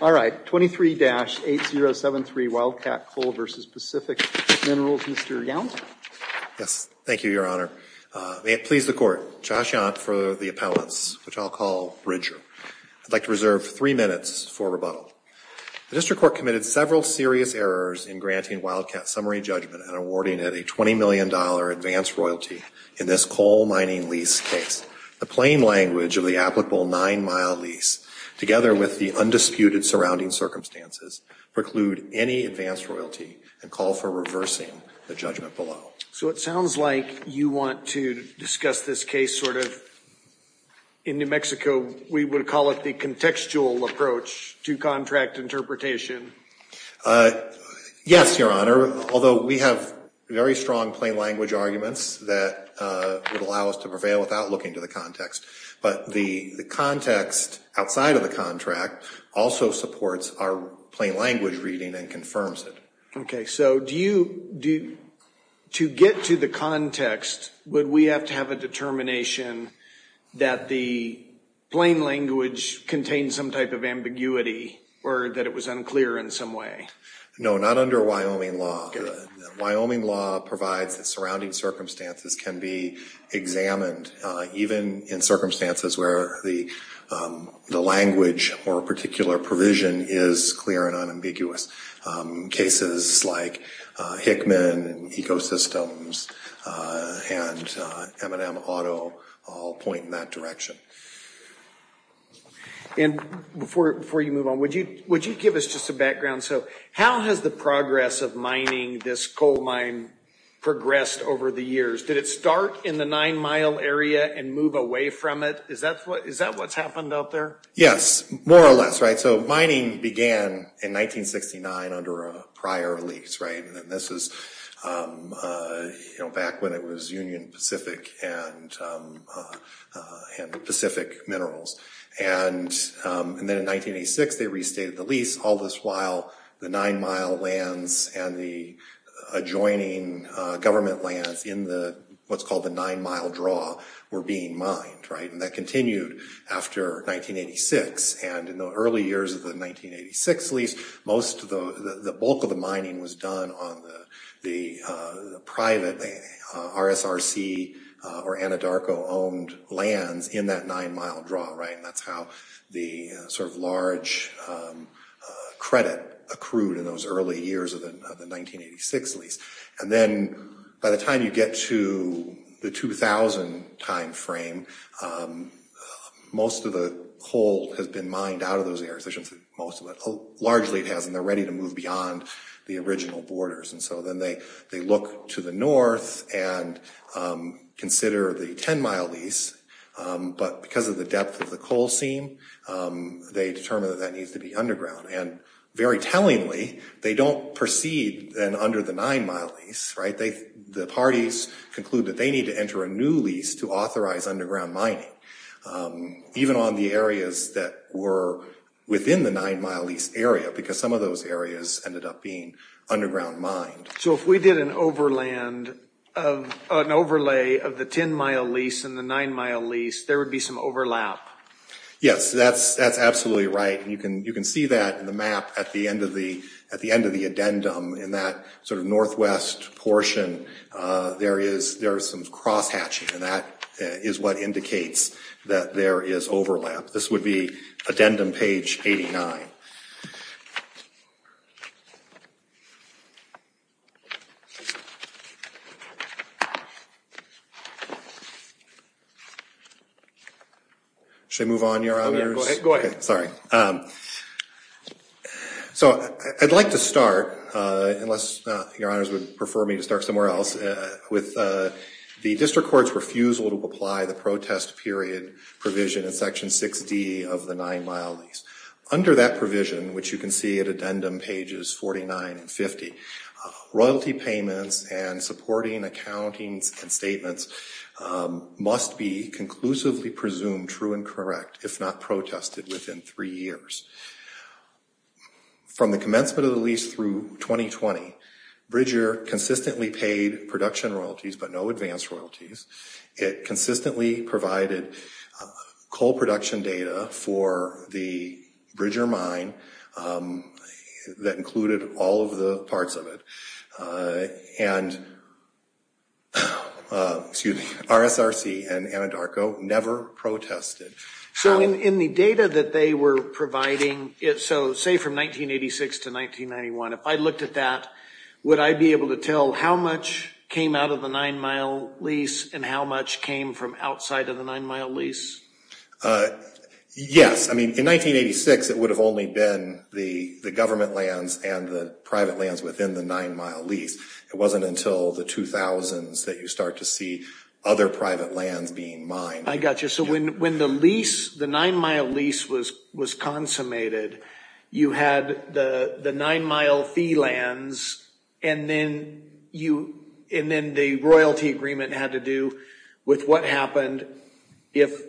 All right, 23-8073, Wildcat Coal v. Pacific Minerals. Mr. Young? Yes. Thank you, Your Honor. May it please the Court. Josh Young for the appellants, which I'll call Bridger. I'd like to reserve three minutes for rebuttal. The district court committed several serious errors in granting Wildcat summary judgment and awarding it a $20 million advance royalty in this coal mining lease case. The plain language of the applicable nine-mile lease, together with the undisputed surrounding circumstances, preclude any advance royalty and call for reversing the judgment below. So it sounds like you want to discuss this case sort of, in New Mexico, we would call it the contextual approach to contract interpretation. Yes, Your Honor. Although we have very strong plain language arguments that would allow us to prevail without looking to the context. But the context outside of the contract also supports our plain language reading and confirms it. So to get to the context, would we have to have a determination that the plain language contains some type of ambiguity, or that it was unclear in some way? No, not under Wyoming law. Wyoming law provides that surrounding circumstances can be examined, even in circumstances where the language or particular provision is clear and unambiguous. Cases like Hickman, Ecosystems, and M&M Auto all point in that direction. And before you move on, would you give us just a background? So how has the progress of mining this coal mine progressed over the years? Did it start in the nine-mile area and move away from it? Is that what's happened out there? Yes, more or less. So mining began in 1969 under a prior lease. This is back when it was Union Pacific and Pacific Minerals. And then in 1986, they restated the lease. All this while, the nine-mile lands and the adjoining government lands in what's called the nine-mile draw were being mined. And that continued after 1986. And in the early years of the 1986 lease, most of the bulk of the mining was done on the private RSRC or Anadarko-owned lands in that nine-mile draw. And that's how the sort of large credit accrued in those early years of the 1986 lease. And then by the time you get to the 2000 time frame, most of the coal has been mined out of those areas. I shouldn't say most of it. Largely it hasn't. They're ready to move beyond the original borders. And so then they look to the north and consider the 10-mile lease. But because of the depth of the coal seam, they determine that that needs to be underground. And very tellingly, they don't proceed then to the nine-mile lease. The parties conclude that they need to enter a new lease to authorize underground mining, even on the areas that were within the nine-mile lease area, because some of those areas ended up being underground mined. So if we did an overlay of the 10-mile lease and the nine-mile lease, there would be some overlap. Yes, that's absolutely right. You can see that in the map at the end of the addendum in that sort of northwest portion, there is some cross-hatching. And that is what indicates that there is overlap. This would be addendum page 89. Should I move on? You're on yours? Okay, sorry. Okay, so I'd like to start, unless your honors would prefer me to start somewhere else, with the district court's refusal to apply the protest period provision in section 6D of the nine-mile lease. Under that provision, which you can see at addendum pages 49 and 50, royalty payments and supporting accountings and statements must be conclusively presumed true and correct, if not protested, within three years. From the commencement of the lease through 2020, Bridger consistently paid production royalties, but no advance royalties. It consistently provided coal production data for the Bridger mine that included all of the parts of it. And, excuse me, RSRC and Anadarko never protested. So in the data that they were providing, so say from 1986 to 1991, if I looked at that, would I be able to tell how much came out of the nine-mile lease and how much came from outside of the nine-mile lease? Yes, I mean, in 1986, it would have only been the government lands and the private lands within the nine-mile lease. It wasn't until the 2000s that you start to see other private lands being mined. I got you, so when the lease, the nine-mile lease was consummated, you had the nine-mile fee lands, and then the royalty agreement had to do with what happened if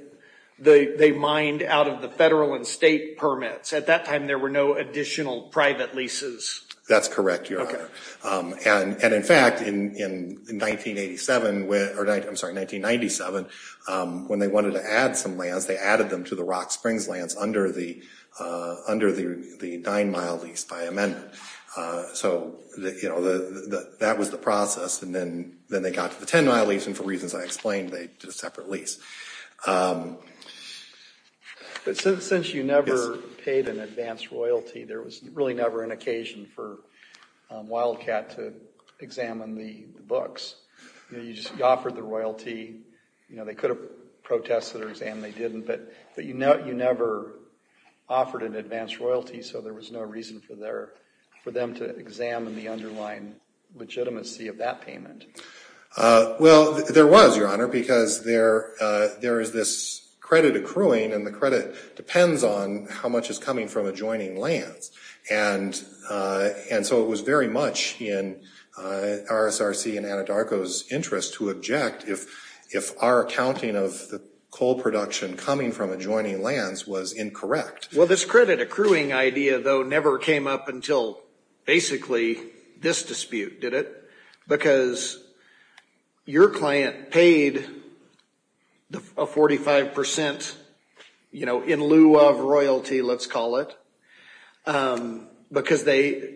they mined out of the federal and state permits. At that time, there were no additional private leases. That's correct, Your Honor. And in fact, in 1987, or I'm sorry, 1997, when they wanted to add some lands, they added them to the Rock Springs lands under the nine-mile lease by amendment. So that was the process, and then they got to the 10-mile lease, and for reasons I explained, they did a separate lease. But since you never paid an advanced royalty, there was really never an occasion for Wildcat to examine the books. You just offered the royalty. They could have protested or examined, they didn't, but you never offered an advanced royalty, so there was no reason for them to examine the underlying legitimacy of that payment. Well, there was, Your Honor, because there is this credit accruing, and the credit depends on how much is coming from adjoining lands. And so it was very much in RSRC and Anadarko's interest to object if our accounting of the coal production coming from adjoining lands was incorrect. Well, this credit accruing idea, though, never came up until basically this dispute, did it? Because your client paid a 45%, in lieu of royalty, let's call it, because they,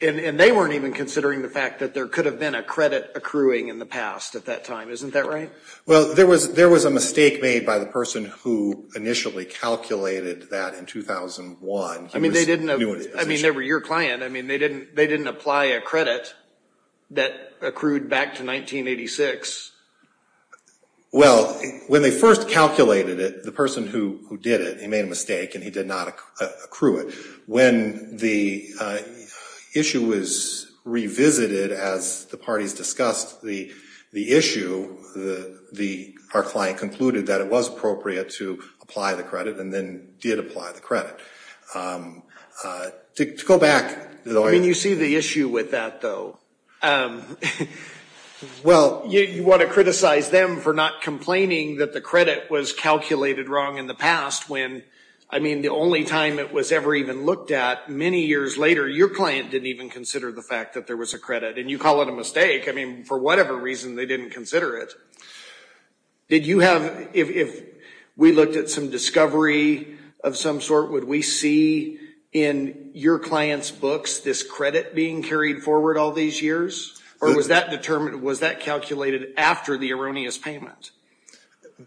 and they weren't even considering the fact that there could have been a credit accruing in the past at that time. Isn't that right? Well, there was a mistake made by the person who initially calculated that in 2001. I mean, they didn't, I mean, they were your client. I mean, they didn't apply a credit that accrued back to 1986. Well, when they first calculated it, the person who did it, he made a mistake, and he did not accrue it. When the issue was revisited as the party discussed the issue, our client concluded that it was appropriate to apply the credit, and then did apply the credit. To go back, the lawyer. I mean, you see the issue with that, though. Well, you want to criticize them for not complaining that the credit was calculated wrong in the past when, I mean, the only time it was ever even looked at, many years later, your client didn't even consider the fact that there was a credit, and you call it a mistake. I mean, for whatever reason, they didn't consider it. Did you have, if we looked at some discovery of some sort, would we see in your client's books this credit being carried forward all these years? Or was that determined, was that calculated after the erroneous payment?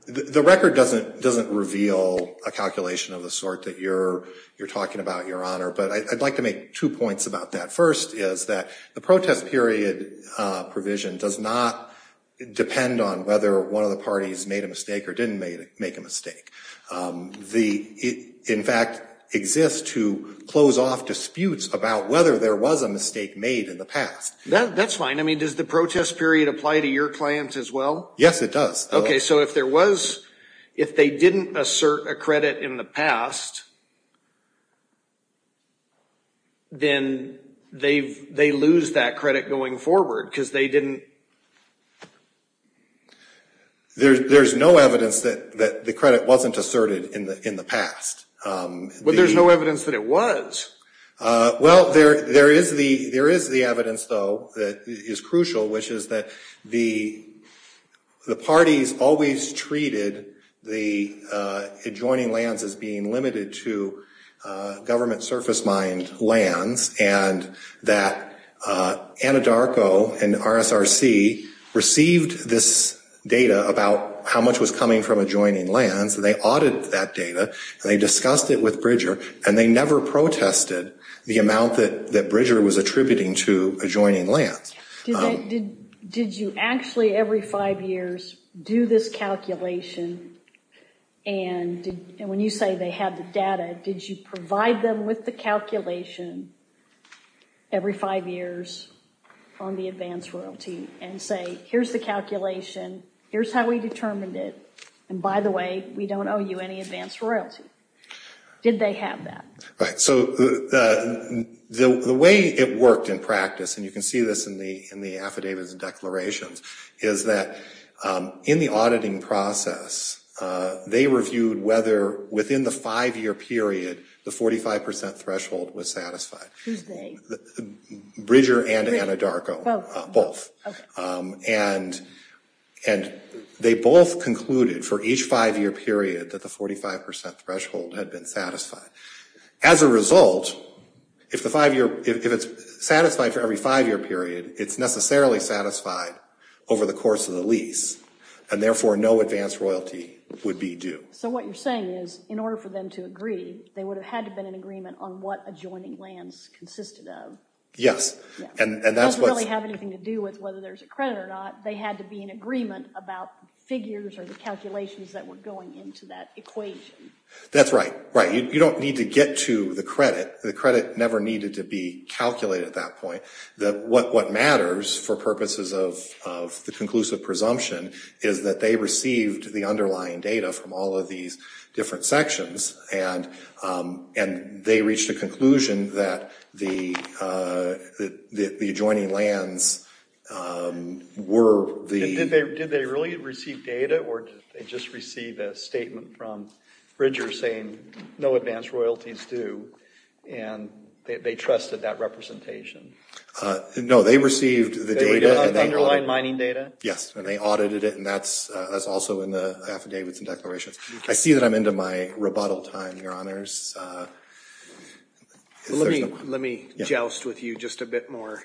The record doesn't reveal a calculation of the sort that you're talking about, Your Honor, but I'd like to make two points about that. The first is that the protest period provision does not depend on whether one of the parties made a mistake or didn't make a mistake. In fact, exists to close off disputes about whether there was a mistake made in the past. That's fine. I mean, does the protest period apply to your client as well? Yes, it does. Okay, so if there was, if they didn't assert a credit in the past, then they lose that credit going forward because they didn't... There's no evidence that the credit wasn't asserted in the past. But there's no evidence that it was. Well, there is the evidence, though, that is crucial, which is that the parties always treated the adjoining lands as being limited to government surface-mined lands and that Anadarko and RSRC received this data about how much was coming from adjoining lands. They audited that data and they discussed it with Bridger and they never protested the amount that Bridger was attributing to adjoining lands. Did you actually, every five years, do this calculation? And when you say they had the data, did you provide them with the calculation every five years on the advance royalty and say, here's the calculation, here's how we determined it, and by the way, we don't owe you any advance royalty? Did they have that? Right, so the way it worked in practice, and you can see this in the affidavits and declarations, is that in the auditing process, they reviewed whether, within the five-year period, the 45% threshold was satisfied. Who's they? Bridger and Anadarko, both. And they both concluded, for each five-year period, that the 45% threshold had been satisfied. As a result, if it's satisfied for every five-year period, it's necessarily satisfied over the course of the lease and therefore, no advance royalty would be due. So what you're saying is, in order for them to agree, they would have had to have been in agreement on what adjoining lands consisted of. Yes, and that's what's- It doesn't really have anything to do with whether there's a credit or not. They had to be in agreement about figures or the calculations that were going into that equation. That's right, right. You don't need to get to the credit. The credit never needed to be calculated at that point. What matters, for purposes of the conclusive presumption, is that they received the underlying data from all of these different sections and they reached a conclusion that the adjoining lands were the- Did they really receive data or did they just receive a statement from Bridger saying no advance royalties due and they trusted that representation? No, they received the data- The underlying mining data? Yes, and they audited it and that's also in the affidavits and declarations. I see that I'm into my rebuttal time, your honors. Let me joust with you just a bit more.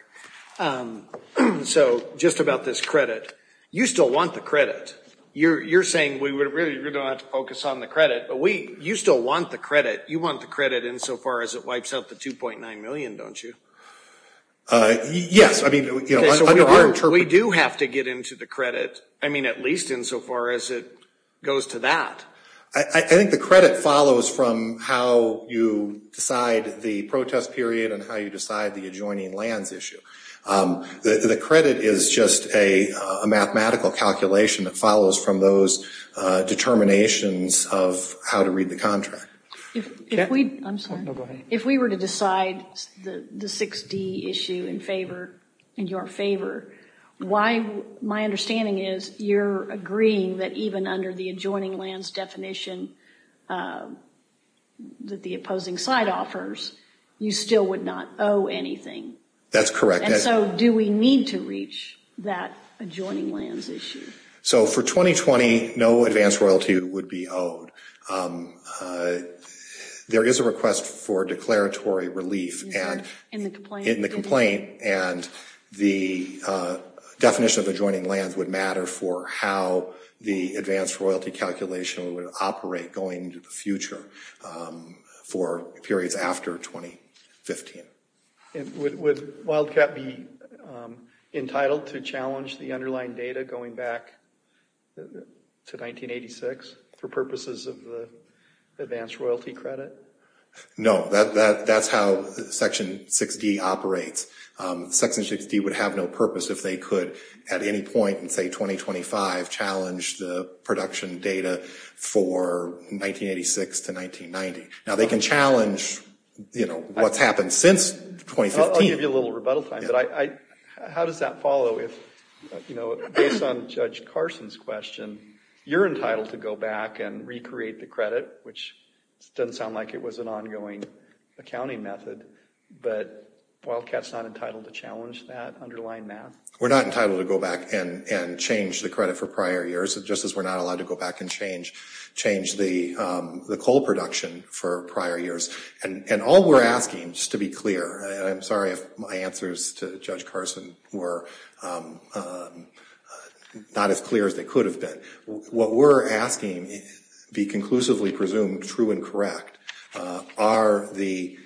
So, just about this credit. You still want the credit. You're saying we really don't have to focus on the credit, but you still want the credit. In so far as it wipes out the 2.9 million, don't you? Yes, I mean, under our interpretation- We do have to get into the credit. I mean, at least in so far as it goes to that. I think the credit follows from how you decide the protest period and how you decide the adjoining lands issue. The credit is just a mathematical calculation that follows from those determinations of how to read the contract. If we- I'm sorry. If we were to decide the 6D issue in favor, in your favor, my understanding is you're agreeing that even under the adjoining lands definition that the opposing side offers, you still would not owe anything. That's correct. And so, do we need to reach that adjoining lands issue? So, for 2020, no advanced royalty would be owed. There is a request for declaratory relief in the complaint, and the definition of adjoining lands would matter for how the advanced royalty calculation would operate going into the future for periods after 2015. Would Wildcat be entitled to challenge the underlying data going back to 1986 for purposes of the advanced royalty credit? No, that's how Section 6D operates. Section 6D would have no purpose if they could, at any point in, say, 2025, challenge the production data for 1986 to 1990. Now, they can challenge what's happened since 2015. I'll give you a little rebuttal time, but how does that follow if, based on Judge Carson's question, you're entitled to go back and recreate the credit, which doesn't sound like it was an ongoing accounting method, but Wildcat's not entitled to challenge that underlying math? We're not entitled to go back and change the credit for prior years, just as we're not allowed to go back and change the coal production for prior years. And all we're asking, just to be clear, and I'm sorry if my answers to Judge Carson were not as clear as they could have been, what we're asking be conclusively presumed true and correct are the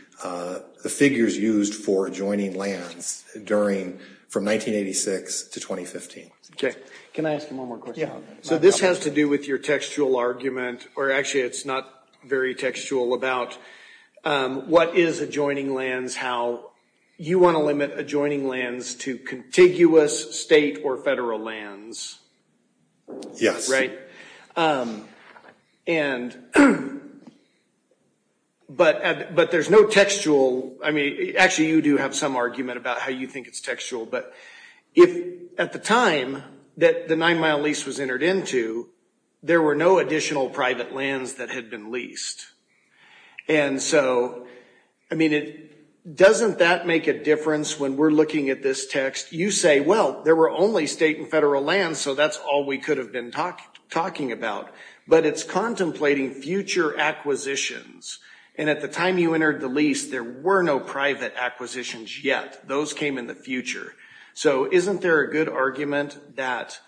figures used for adjoining lands during, from 1986 to 2015. Okay, can I ask you one more question? So this has to do with your textual argument, or actually it's not very textual, about what is adjoining lands, how you want to limit adjoining lands to contiguous state or federal lands, right? But there's no textual, I mean, actually you do have some argument about how you think it's textual, but if, at the time that the nine mile lease was entered into, there were no additional private lands that had been leased. And so, I mean, doesn't that make a difference when we're looking at this text? You say, well, there were only state and federal lands, so that's all we could have been talking about. But it's contemplating future acquisitions. And at the time you entered the lease, there were no private acquisitions yet. Those came in the future. So isn't there a good argument that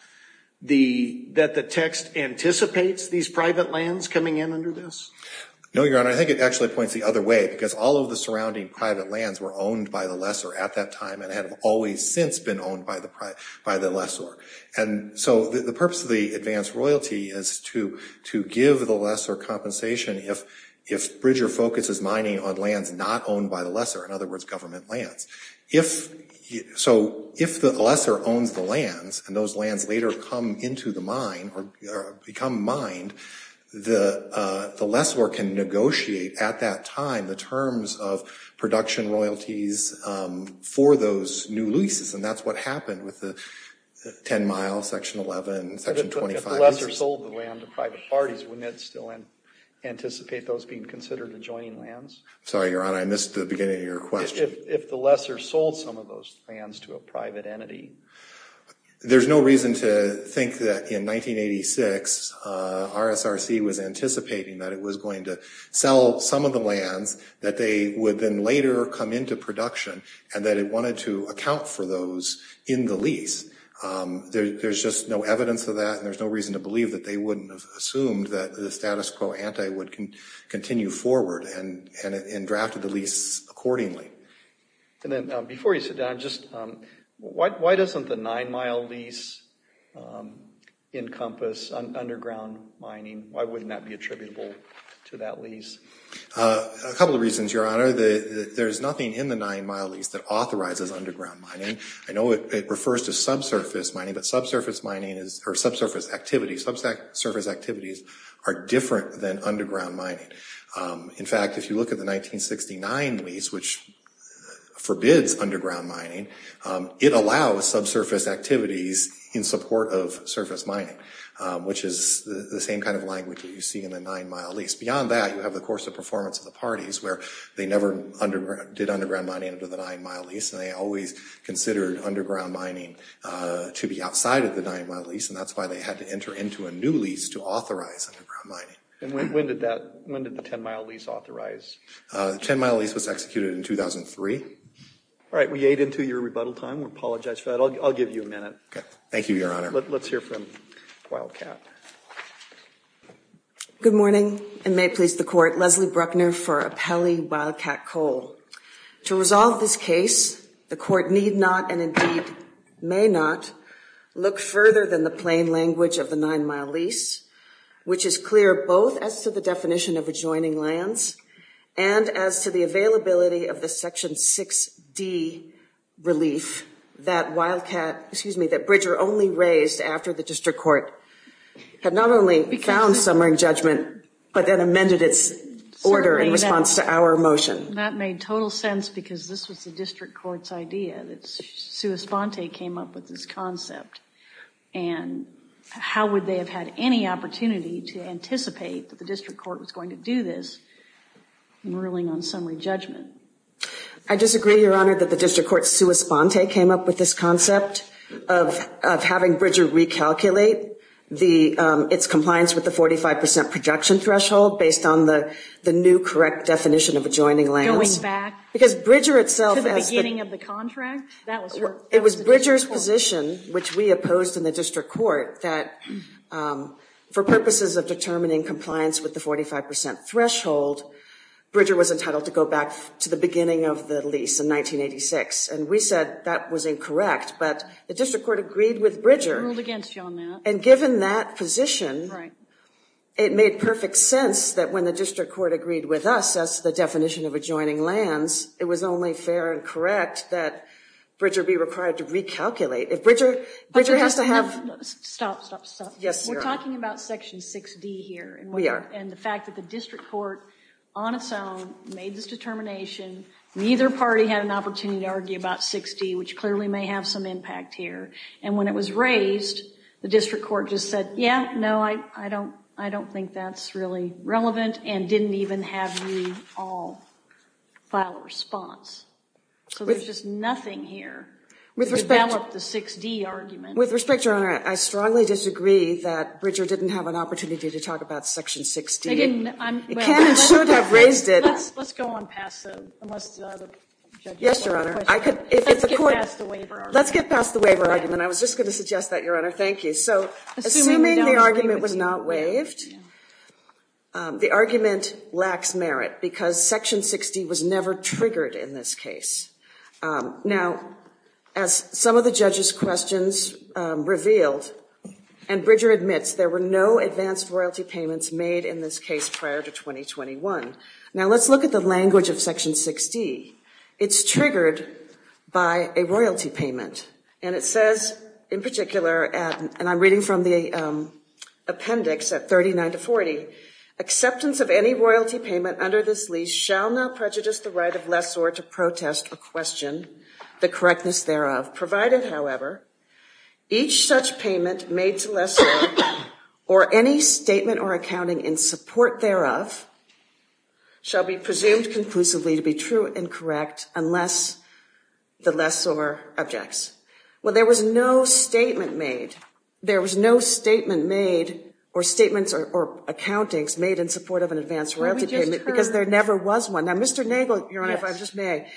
the text anticipates these private lands coming in under this? No, Your Honor, I think it actually points the other way, because all of the surrounding private lands were owned by the lesser at that time, and have always since been owned by the lesser. And so the purpose of the advanced royalty is to give the lesser compensation if Bridger focuses mining on lands not owned by the lesser, in other words, government lands. If, so if the lesser owns the lands, and those lands later come into the mine, or become mined, the lesser can negotiate at that time the terms of production royalties for those new leases. And that's what happened with the 10 mile, section 11, section 25. If the lesser sold the land to private parties, wouldn't that still anticipate those being considered adjoining lands? Sorry, Your Honor, I missed the beginning of your question. If the lesser sold some of those lands to a private entity. There's no reason to think that in 1986, RSRC was anticipating that it was going to sell some of the lands, that they would then later come into production, and that it wanted to account for those in the lease. There's just no evidence of that, and there's no reason to believe that they wouldn't have assumed that the status quo ante would continue forward, and drafted the lease accordingly. And then before you sit down, why doesn't the nine mile lease encompass underground mining? Why wouldn't that be attributable to that lease? A couple of reasons, Your Honor. There's nothing in the nine mile lease that authorizes underground mining. I know it refers to subsurface mining, but subsurface mining, or subsurface activities, subsurface activities are different than underground mining. In fact, if you look at the 1969 lease, which forbids underground mining, it allows subsurface activities in support of surface mining, which is the same kind of language that you see in the nine mile lease. Beyond that, you have the course of performance of the parties, where they never did underground mining under the nine mile lease, and they always considered underground mining to be outside of the nine mile lease, and that's why they had to enter into a new lease to authorize underground mining. And when did the 10 mile lease authorize? The 10 mile lease was executed in 2003. All right, we ate into your rebuttal time. We apologize for that. I'll give you a minute. Thank you, Your Honor. Let's hear from Wildcat. Good morning, and may it please the court, Leslie Bruckner for Appelli Wildcat Cole. To resolve this case, the court need not, and indeed may not, look further than the plain language of the nine mile lease, which is clear both as to the definition of adjoining lands, and as to the availability of the section 6D relief that Wildcat, excuse me, that Bridger only raised after the district court had not only found summering judgment, but then amended its order in response to our motion. That made total sense, because this was the district court's idea. That Sua Sponte came up with this concept, and how would they have had any opportunity to anticipate that the district court was going to do this in ruling on summary judgment? I disagree, Your Honor, that the district court, Sua Sponte, came up with this concept of having Bridger recalculate its compliance with the 45% projection threshold based on the new correct definition of adjoining lands. Going back? Because Bridger itself has been. To the beginning of the contract? It was Bridger's position, which we opposed in the district court, that for purposes of determining compliance with the 45% threshold, Bridger was entitled to go back to the beginning of the lease in 1986, and we said that was incorrect, but the district court agreed with Bridger. We ruled against you on that. And given that position, it made perfect sense that when the district court agreed with us as to the definition of adjoining lands, it was only fair and correct that Bridger be required to recalculate. Bridger has to have. Stop, stop, stop. Yes, Your Honor. We're talking about section 6D here. We are. And the fact that the district court, on its own, made this determination, neither party had an opportunity to argue about 6D, which clearly may have some impact here. And when it was raised, the district court just said, yeah, no, I don't think that's really relevant, and didn't even have you all file a response. So there's just nothing here. With respect to 6D argument. With respect, Your Honor, I strongly disagree that Bridger didn't have an opportunity to talk about section 6D. It can and should have raised it. Let's go on past the, unless the judge has a question. Yes, Your Honor. Let's get past the waiver argument. Let's get past the waiver argument. I was just going to suggest that, Your Honor. Thank you. So assuming the argument was not waived, the argument lacks merit, because section 6D was never triggered in this case. Now, as some of the judge's questions revealed, and Bridger admits, there were no advanced royalty payments made in this case prior to 2021. Now, let's look at the language of section 6D. It's triggered by a royalty payment. And it says, in particular, and I'm reading from the appendix at 39 to 40, acceptance of any royalty payment under this lease shall not prejudice the right of lessor to protest or question the correctness thereof, provided, however, each such payment made to lessor or any statement or accounting in support thereof shall be presumed conclusively to be true and correct unless the lessor objects. Well, there was no statement made. There was no statement made or statements or accountings made in support of an advanced royalty payment, because there never was one. Now, Mr. Nagel, Your Honor, if I just may.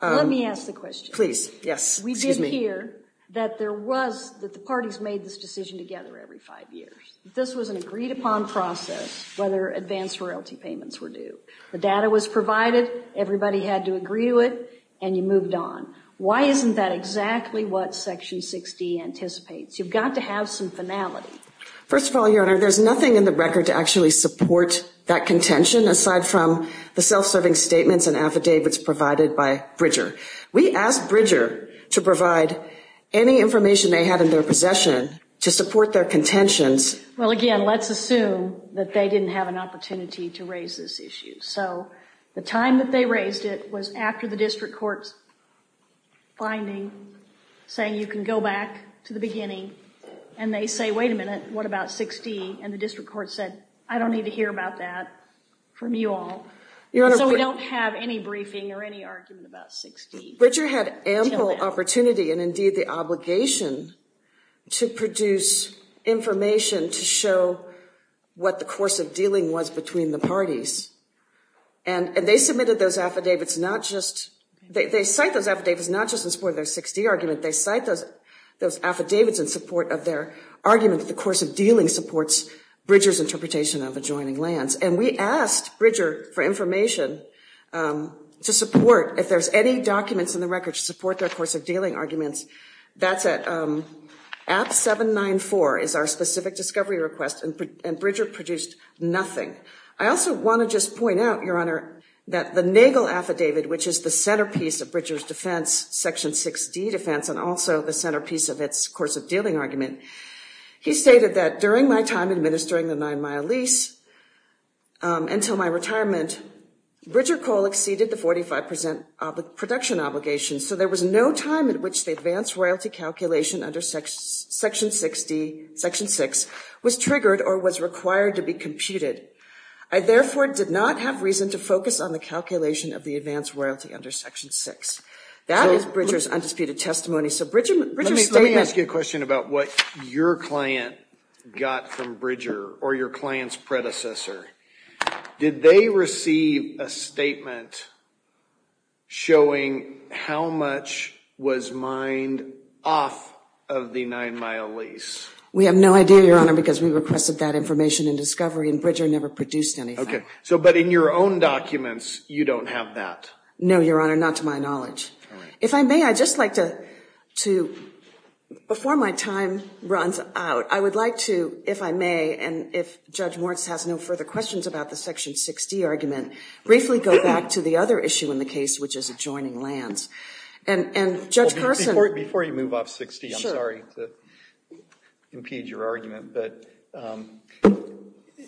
Let me ask the question. Please, yes. We did hear that there was, that the parties made this decision together every five years. This was an agreed upon process, whether advanced royalty payments were due. The data was provided. Everybody had to agree to it, and you moved on. Why isn't that exactly what section 6D anticipates? You've got to have some finality. First of all, Your Honor, there's nothing in the record to actually support that contention aside from the self-serving statements and affidavits provided by Bridger. We asked Bridger to provide any information they had in their possession to support their contentions. Well, again, let's assume that they didn't have an opportunity to raise this issue. So the time that they raised it was after the district court's finding saying you can go back to the beginning, and they say, wait a minute, what about 6D? And the district court said, I don't need to hear about that from you all. So we don't have any briefing or any argument about 6D. Bridger had ample opportunity and, indeed, the obligation to produce information to show what the course of dealing was between the parties. And they submitted those affidavits not just, they cite those affidavits not just in support of their 6D argument. They cite those affidavits in support of their argument that the course of dealing supports Bridger's interpretation of adjoining lands. And we asked Bridger for information to support, if there's any documents in the record to support their course of dealing arguments, that's at app 794 is our specific discovery request. And Bridger produced nothing. I also want to just point out, Your Honor, that the Nagel affidavit, which is the centerpiece of Bridger's defense, section 6D defense, and also the centerpiece of its course of dealing argument, he stated that, during my time administering the nine-mile lease until my retirement, Bridger Cole exceeded the 45% production obligation. So there was no time at which the advance royalty calculation under section 6 was triggered or was required to be computed. I, therefore, did not have reason to focus on the calculation of the advance royalty under section 6. That is Bridger's undisputed testimony. So Bridger's statement. Let me ask you a question about what your client got from Bridger, or your client's predecessor. Did they receive a statement showing how much was mined off of the nine-mile lease? We have no idea, Your Honor, because we requested that information in discovery. And Bridger never produced anything. So but in your own documents, you don't have that. No, Your Honor, not to my knowledge. If I may, I'd just like to, before my time runs out, I would like to, if I may, and if Judge Moritz has no further questions about the section 60 argument, briefly go back to the other issue in the case, which is adjoining lands. And Judge Carson. Before you move off 60, I'm sorry to impede your argument. But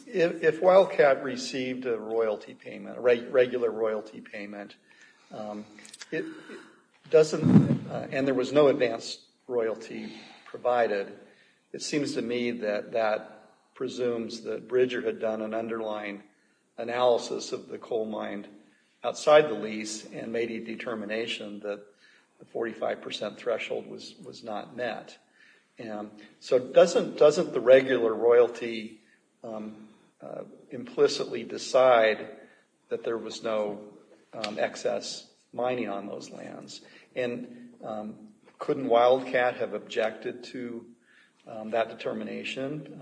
if Wildcat received a royalty payment, regular royalty payment, and there was no advanced royalty provided, it seems to me that that presumes that Bridger had done an underlying analysis of the coal mined outside the lease and made a determination that the 45% threshold was not met. And so doesn't the regular royalty implicitly decide that there was no excess mining on those lands? And couldn't Wildcat have objected to that determination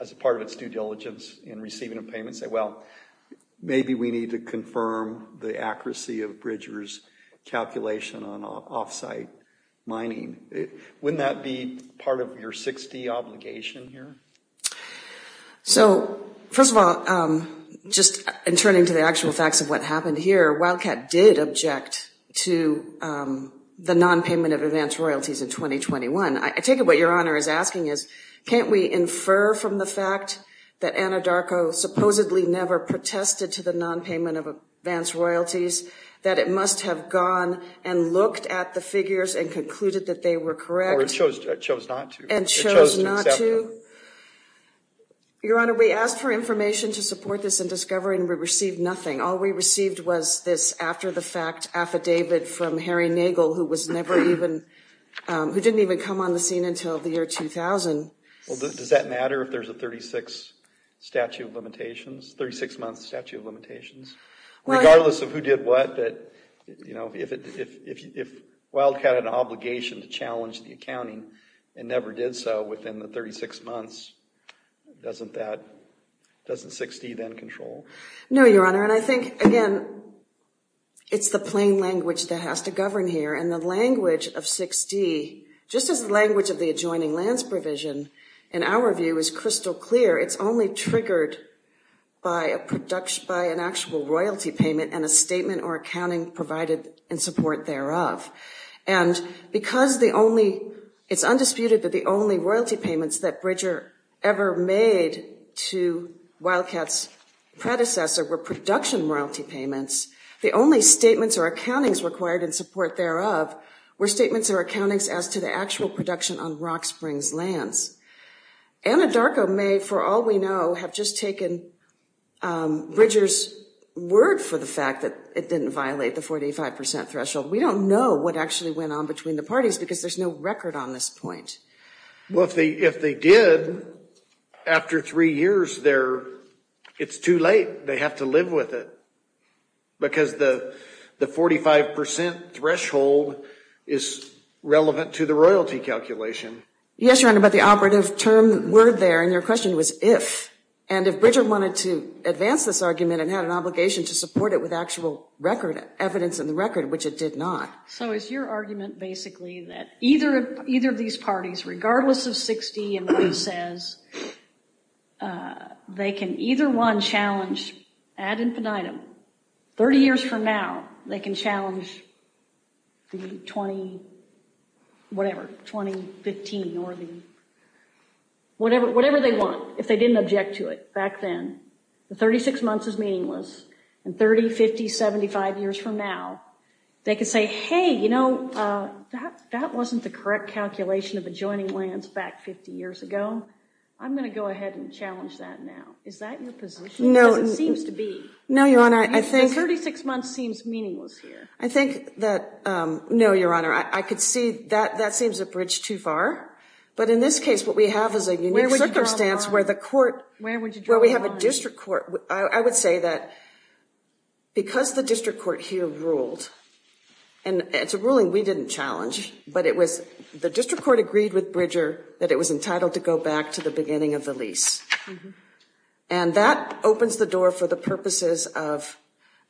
as a part of its due diligence in receiving a payment, say, well, maybe we need to confirm the accuracy of Bridger's calculation on off-site mining? Wouldn't that be part of your 60 obligation here? So first of all, just in turning to the actual facts of what happened here, Wildcat did object to the non-payment of advanced royalties in 2021. I take it what Your Honor is asking is, can't we infer from the fact that Anadarko supposedly never protested to the non-payment of advanced royalties that it must have gone and looked at the figures and concluded that they were correct? Or it chose not to. And chose not to? Your Honor, we asked for information to support this in discovery, and we received nothing. All we received was this after-the-fact affidavit from Harry Nagel, who didn't even come on the scene until the year 2000. Well, does that matter if there's a 36-month statute of limitations? Regardless of who did what, if Wildcat had an obligation to challenge the accounting and never did so within the 36 months, doesn't 6D then control? No, Your Honor. And I think, again, it's the plain language that has to govern here. And the language of 6D, just as the language of the adjoining lands provision, in our view, is crystal clear. It's only triggered by an actual royalty payment and a statement or accounting provided in support thereof. And because it's undisputed that the only royalty payments that Bridger ever made to Wildcat's predecessor were production royalty payments, the only statements or accountings required in support thereof were statements or accountings as to the actual production on Rock Springs lands. Anadarko may, for all we know, have just taken Bridger's word for the fact that it didn't violate the 45% threshold. We don't know what actually went on between the parties, because there's no record on this point. Well, if they did, after three years, it's too late. They have to live with it. Because the 45% threshold is relevant to the royalty calculation. Yes, Your Honor, but the operative term word there in your question was if. And if Bridger wanted to advance this argument and had an obligation to support it with actual record evidence in the record, which it did not. So is your argument basically that either of these parties, regardless of 60 and what he says, they can either one challenge ad infinitum, 30 years from now, they can challenge the 20, whatever, 2015 or the whatever they want, if they didn't object to it back then, the 36 months is meaningless, and 30, 50, 75 years from now, they could say, hey, you know, that wasn't the correct calculation of adjoining lands back 50 years ago. I'm going to go ahead and challenge that now. Is that your position? No. Because it seems to be. No, Your Honor, I think. 36 months seems meaningless here. I think that, no, Your Honor, I could see that that seems a bridge too far. But in this case, what we have is a unique circumstance where the court, where we have a district court, I would say that because the district court here ruled, and it's a ruling we didn't challenge, but it was the district court agreed with Bridger that it was entitled to go back to the beginning of the lease. And that opens the door for the purposes of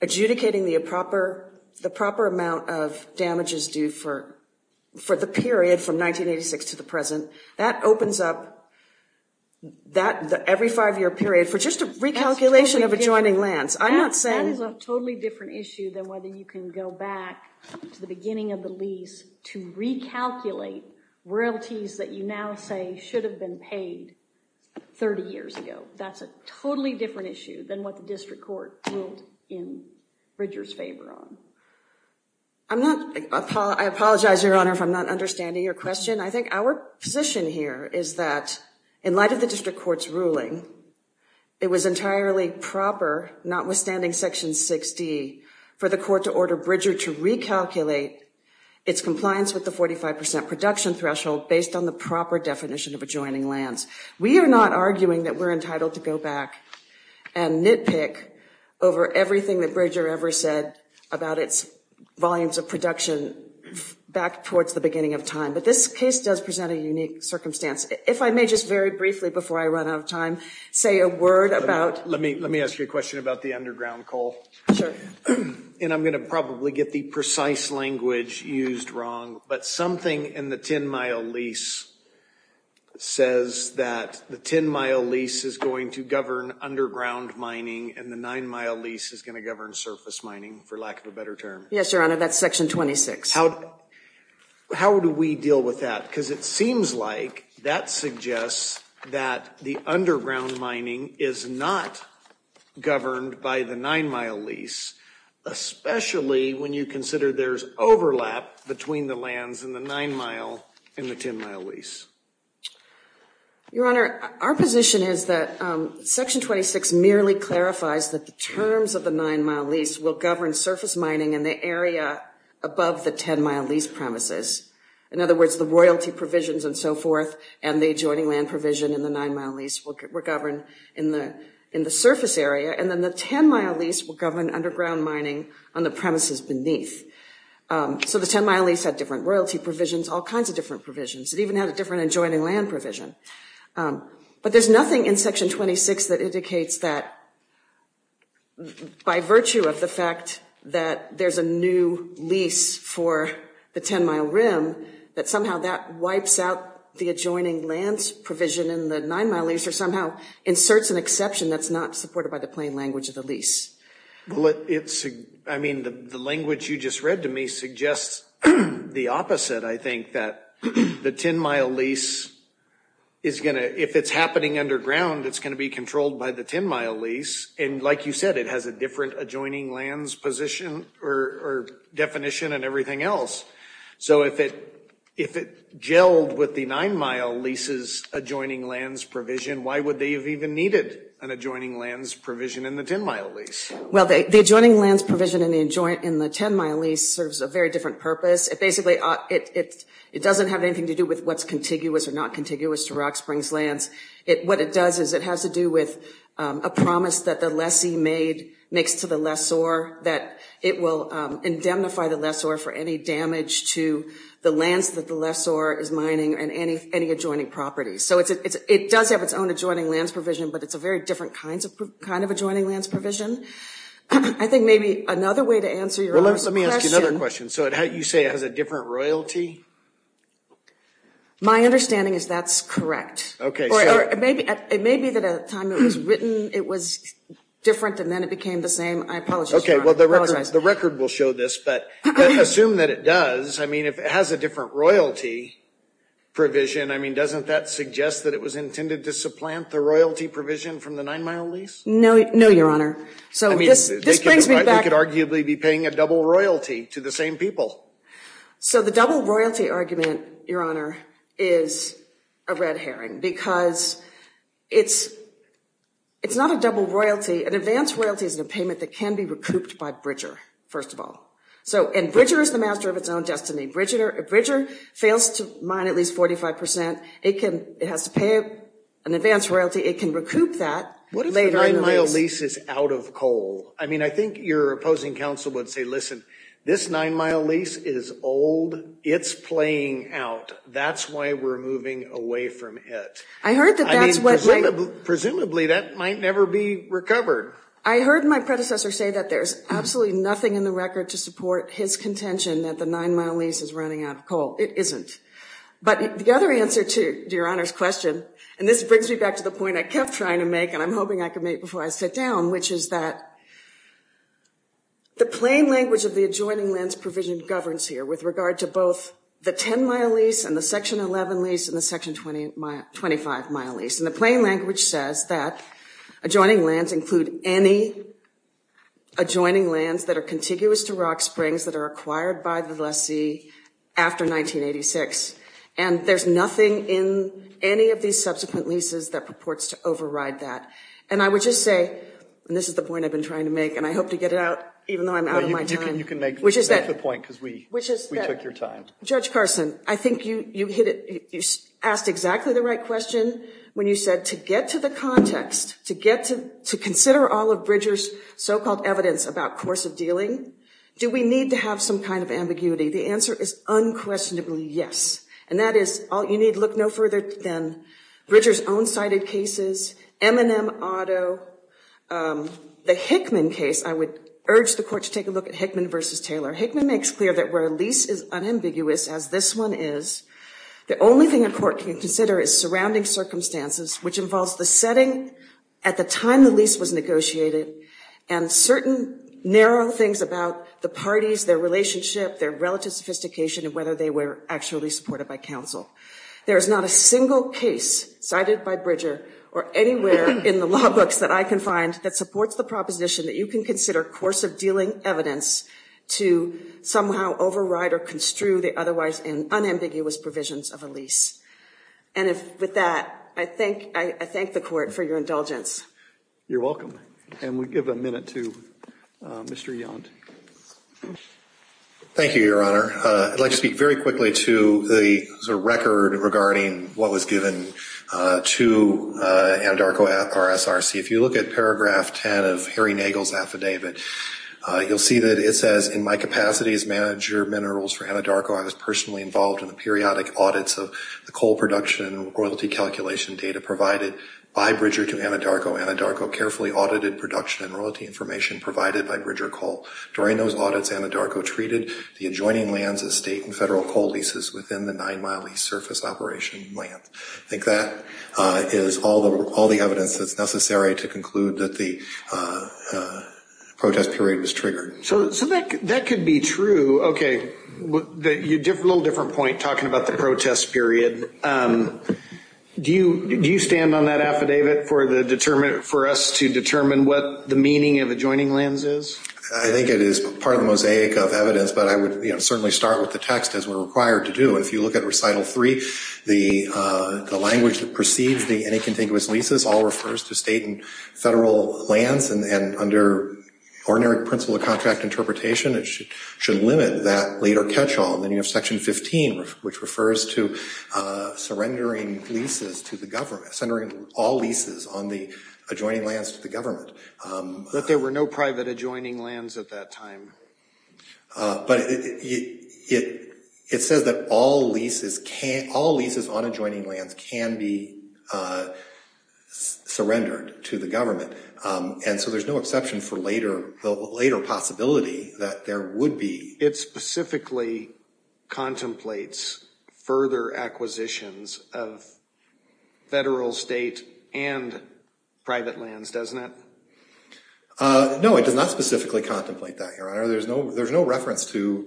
adjudicating the proper amount of damages due for the period from 1986 to the present. That opens up every five year period for just a recalculation of adjoining lands. I'm not saying. That is a totally different issue than whether you can go back to the beginning of the lease to recalculate royalties that you now say should have been paid 30 years ago. That's a totally different issue than what the district court ruled in Bridger's favor on. I'm not. I apologize, Your Honor, if I'm not understanding your question. I think our position here is that, in light of the district court's ruling, it was entirely proper, notwithstanding Section 6D, for the court to order Bridger to recalculate its compliance with the 45% production threshold based on the proper definition of adjoining lands. We are not arguing that we're entitled to go back and nitpick over everything that Bridger ever said about its volumes of production back towards the beginning of time. But this case does present a unique circumstance. If I may just very briefly, before I run out of time, say a word about. Let me ask you a question about the underground coal. And I'm going to probably get the precise language used wrong, but something in the 10-mile lease says that the 10-mile lease is going to govern underground mining, and the nine-mile lease is going to govern surface mining, for lack of a better term. Yes, Your Honor, that's Section 26. How do we deal with that? Because it seems like that suggests that the underground mining is not governed by the nine-mile lease, especially when you consider there's overlap between the lands in the nine-mile and the 10-mile lease. Your Honor, our position is that Section 26 merely clarifies that the terms of the nine-mile lease will govern surface mining in the area above the 10-mile lease premises. In other words, the royalty provisions and so forth, and the adjoining land provision in the nine-mile lease were governed in the surface area. And then the 10-mile lease will govern underground mining on the premises beneath. So the 10-mile lease had different royalty provisions, all kinds of different provisions. It even had a different adjoining land provision. But there's nothing in Section 26 that indicates that, by virtue of the fact that there's a new lease for the 10-mile rim, that somehow that wipes out the adjoining lands provision in the nine-mile lease, or somehow inserts an exception that's not supported by the plain language of the lease. I mean, the language you just read to me suggests the opposite, I think, that the 10-mile lease is going to, if it's happening underground, it's going to be controlled by the 10-mile lease. And like you said, it has a different adjoining lands or definition and everything else. So if it gelled with the nine-mile lease's adjoining lands provision, why would they have even needed an adjoining lands provision in the 10-mile lease? Well, the adjoining lands provision in the 10-mile lease serves a very different purpose. It basically doesn't have anything to do with what's contiguous or not contiguous to Rock Springs lands. What it does is it has to do with a promise that the lessee makes to the lessor that it will indemnify the lessor for any damage to the lands that the lessor is mining and any adjoining properties. So it does have its own adjoining lands provision, but it's a very different kind of adjoining lands provision. I think maybe another way to answer your question. Well, let me ask you another question. So you say it has a different royalty? My understanding is that's correct. Or it may be that at the time it was written, it was different and then it became the same. I apologize, Your Honor. I apologize. The record will show this, but assume that it does. I mean, if it has a different royalty provision, I mean, doesn't that suggest that it was intended to supplant the royalty provision from the nine-mile lease? No, Your Honor. So this brings me back. They could arguably be paying a double royalty to the same people. So the double royalty argument, Your Honor, is a red herring because it's not a double royalty. An advance royalty is a payment that can be recouped by Bridger, first of all. And Bridger is the master of its own destiny. Bridger fails to mine at least 45%. It has to pay an advance royalty. It can recoup that later in the lease. What if the nine-mile lease is out of coal? I mean, I think your opposing counsel would say, listen, this nine-mile lease is old. It's playing out. That's why we're moving away from it. I heard that that's what they. Presumably, that might never be recovered. I heard my predecessor say that there's absolutely nothing in the record to support his contention that the nine-mile lease is running out of coal. It isn't. But the other answer to Your Honor's question, and this brings me back to the point I kept trying to make, and I'm hoping I can make before I sit down, which is that the plain language of the adjoining lends provision governs here with regard to both the 10-mile lease and the Section 11 lease and the Section 25-mile lease. And the plain language says that adjoining lands include any adjoining lands that are contiguous to Rock Springs that are acquired by the lessee after 1986. And there's nothing in any of these subsequent leases that purports to override that. And I would just say, and this is the point I've been trying to make, and I hope to get it out, even though I'm out of my time. You can make the point, because we took your time. Judge Carson, I think you asked exactly the right question when you said, to get to the context, to consider all of Bridger's so-called evidence about course of dealing, do we need to have some kind of ambiguity? The answer is unquestionably yes. And that is, you need to look no further than Bridger's own cited cases, M&M Auto, the Hickman case. I would urge the court to take a look at Hickman versus Taylor. Hickman makes clear that where a lease is unambiguous, as this one is, the only thing a court can consider is surrounding circumstances, which involves the setting at the time the lease was negotiated, and certain narrow things about the parties, their relationship, their relative sophistication, and whether they were actually supported by counsel. There is not a single case cited by Bridger, or anywhere in the law books that I can find, that supports the proposition that you can consider course of dealing evidence to somehow override or construe the otherwise unambiguous provisions of a lease. And with that, I thank the court for your indulgence. You're welcome. And we give a minute to Mr. Yount. Thank you, Your Honor. I'd like to speak very quickly to the record regarding what was given to Anadarko RSRC. If you look at paragraph 10 of Harry Nagel's affidavit, you'll see that it says, in my capacity as manager of minerals for Anadarko, I was personally involved in the periodic audits of the coal production and royalty calculation data provided by Bridger to Anadarko. Anadarko carefully audited production and royalty information provided by Bridger Coal. During those audits, Anadarko treated the adjoining lands as state and federal coal leases within the nine-mile lease surface operation land. I think that is all the evidence that's necessary to conclude that the protest period was triggered. So that could be true. OK, a little different point talking about the protest period. Do you stand on that affidavit for us to determine what the meaning of adjoining lands is? I think it is part of the mosaic of evidence, but I would certainly start with the text as we're required to do. If you look at recital three, the language that precedes the any contiguous leases all refers to state and federal lands. And under ordinary principle of contract interpretation, it should limit that later catch-all. And then you have section 15, which refers to surrendering leases to the government, surrendering all leases on the adjoining lands to the government. But there were no private adjoining lands at that time. But it says that all leases on adjoining lands can be surrendered to the government. And so there's no exception for the later possibility that there would be. It specifically contemplates further acquisitions of federal, state, and private lands, doesn't it? No, it does not specifically contemplate that, Your Honor. There's no reference to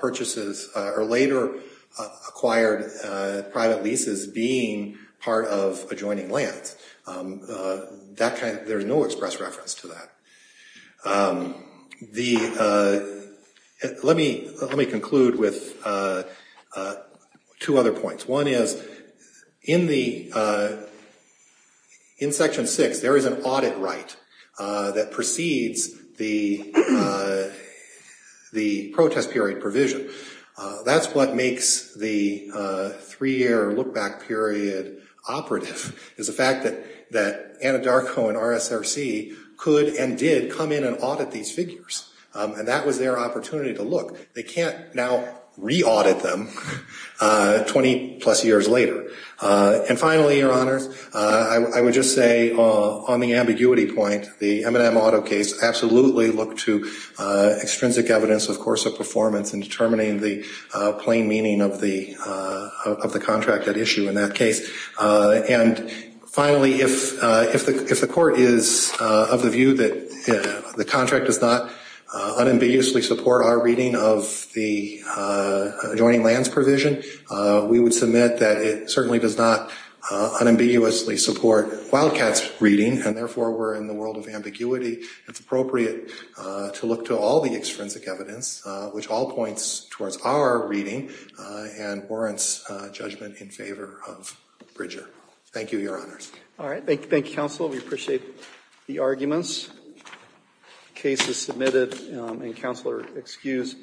purchases or later-acquired private leases being part of adjoining lands. There's no express reference to that. Let me conclude with two other points. One is, in section six, there is an audit right that precedes the protest period provision. That's what makes the three-year look-back period operative, is the fact that Anadarko and RSRC could and did come in and audit these figures. And that was their opportunity to look. They can't now re-audit them 20-plus years later. And finally, Your Honors, I would just say, on the ambiguity point, the M&M Auto case absolutely looked to extrinsic evidence, of course, of performance in determining the plain meaning of the contract at issue in that case. And finally, if the Court is of the view that the contract does not unambiguously support our reading of the adjoining lands provision, we would submit that it certainly does not unambiguously support Wildcat's reading. And therefore, we're in the world of ambiguity. It's appropriate to look to all the extrinsic evidence, which all points towards our reading and warrants judgment in favor of Bridger. Thank you, Your Honors. All right. Thank you, counsel. We appreciate the arguments. Case is submitted. And counsel are excused.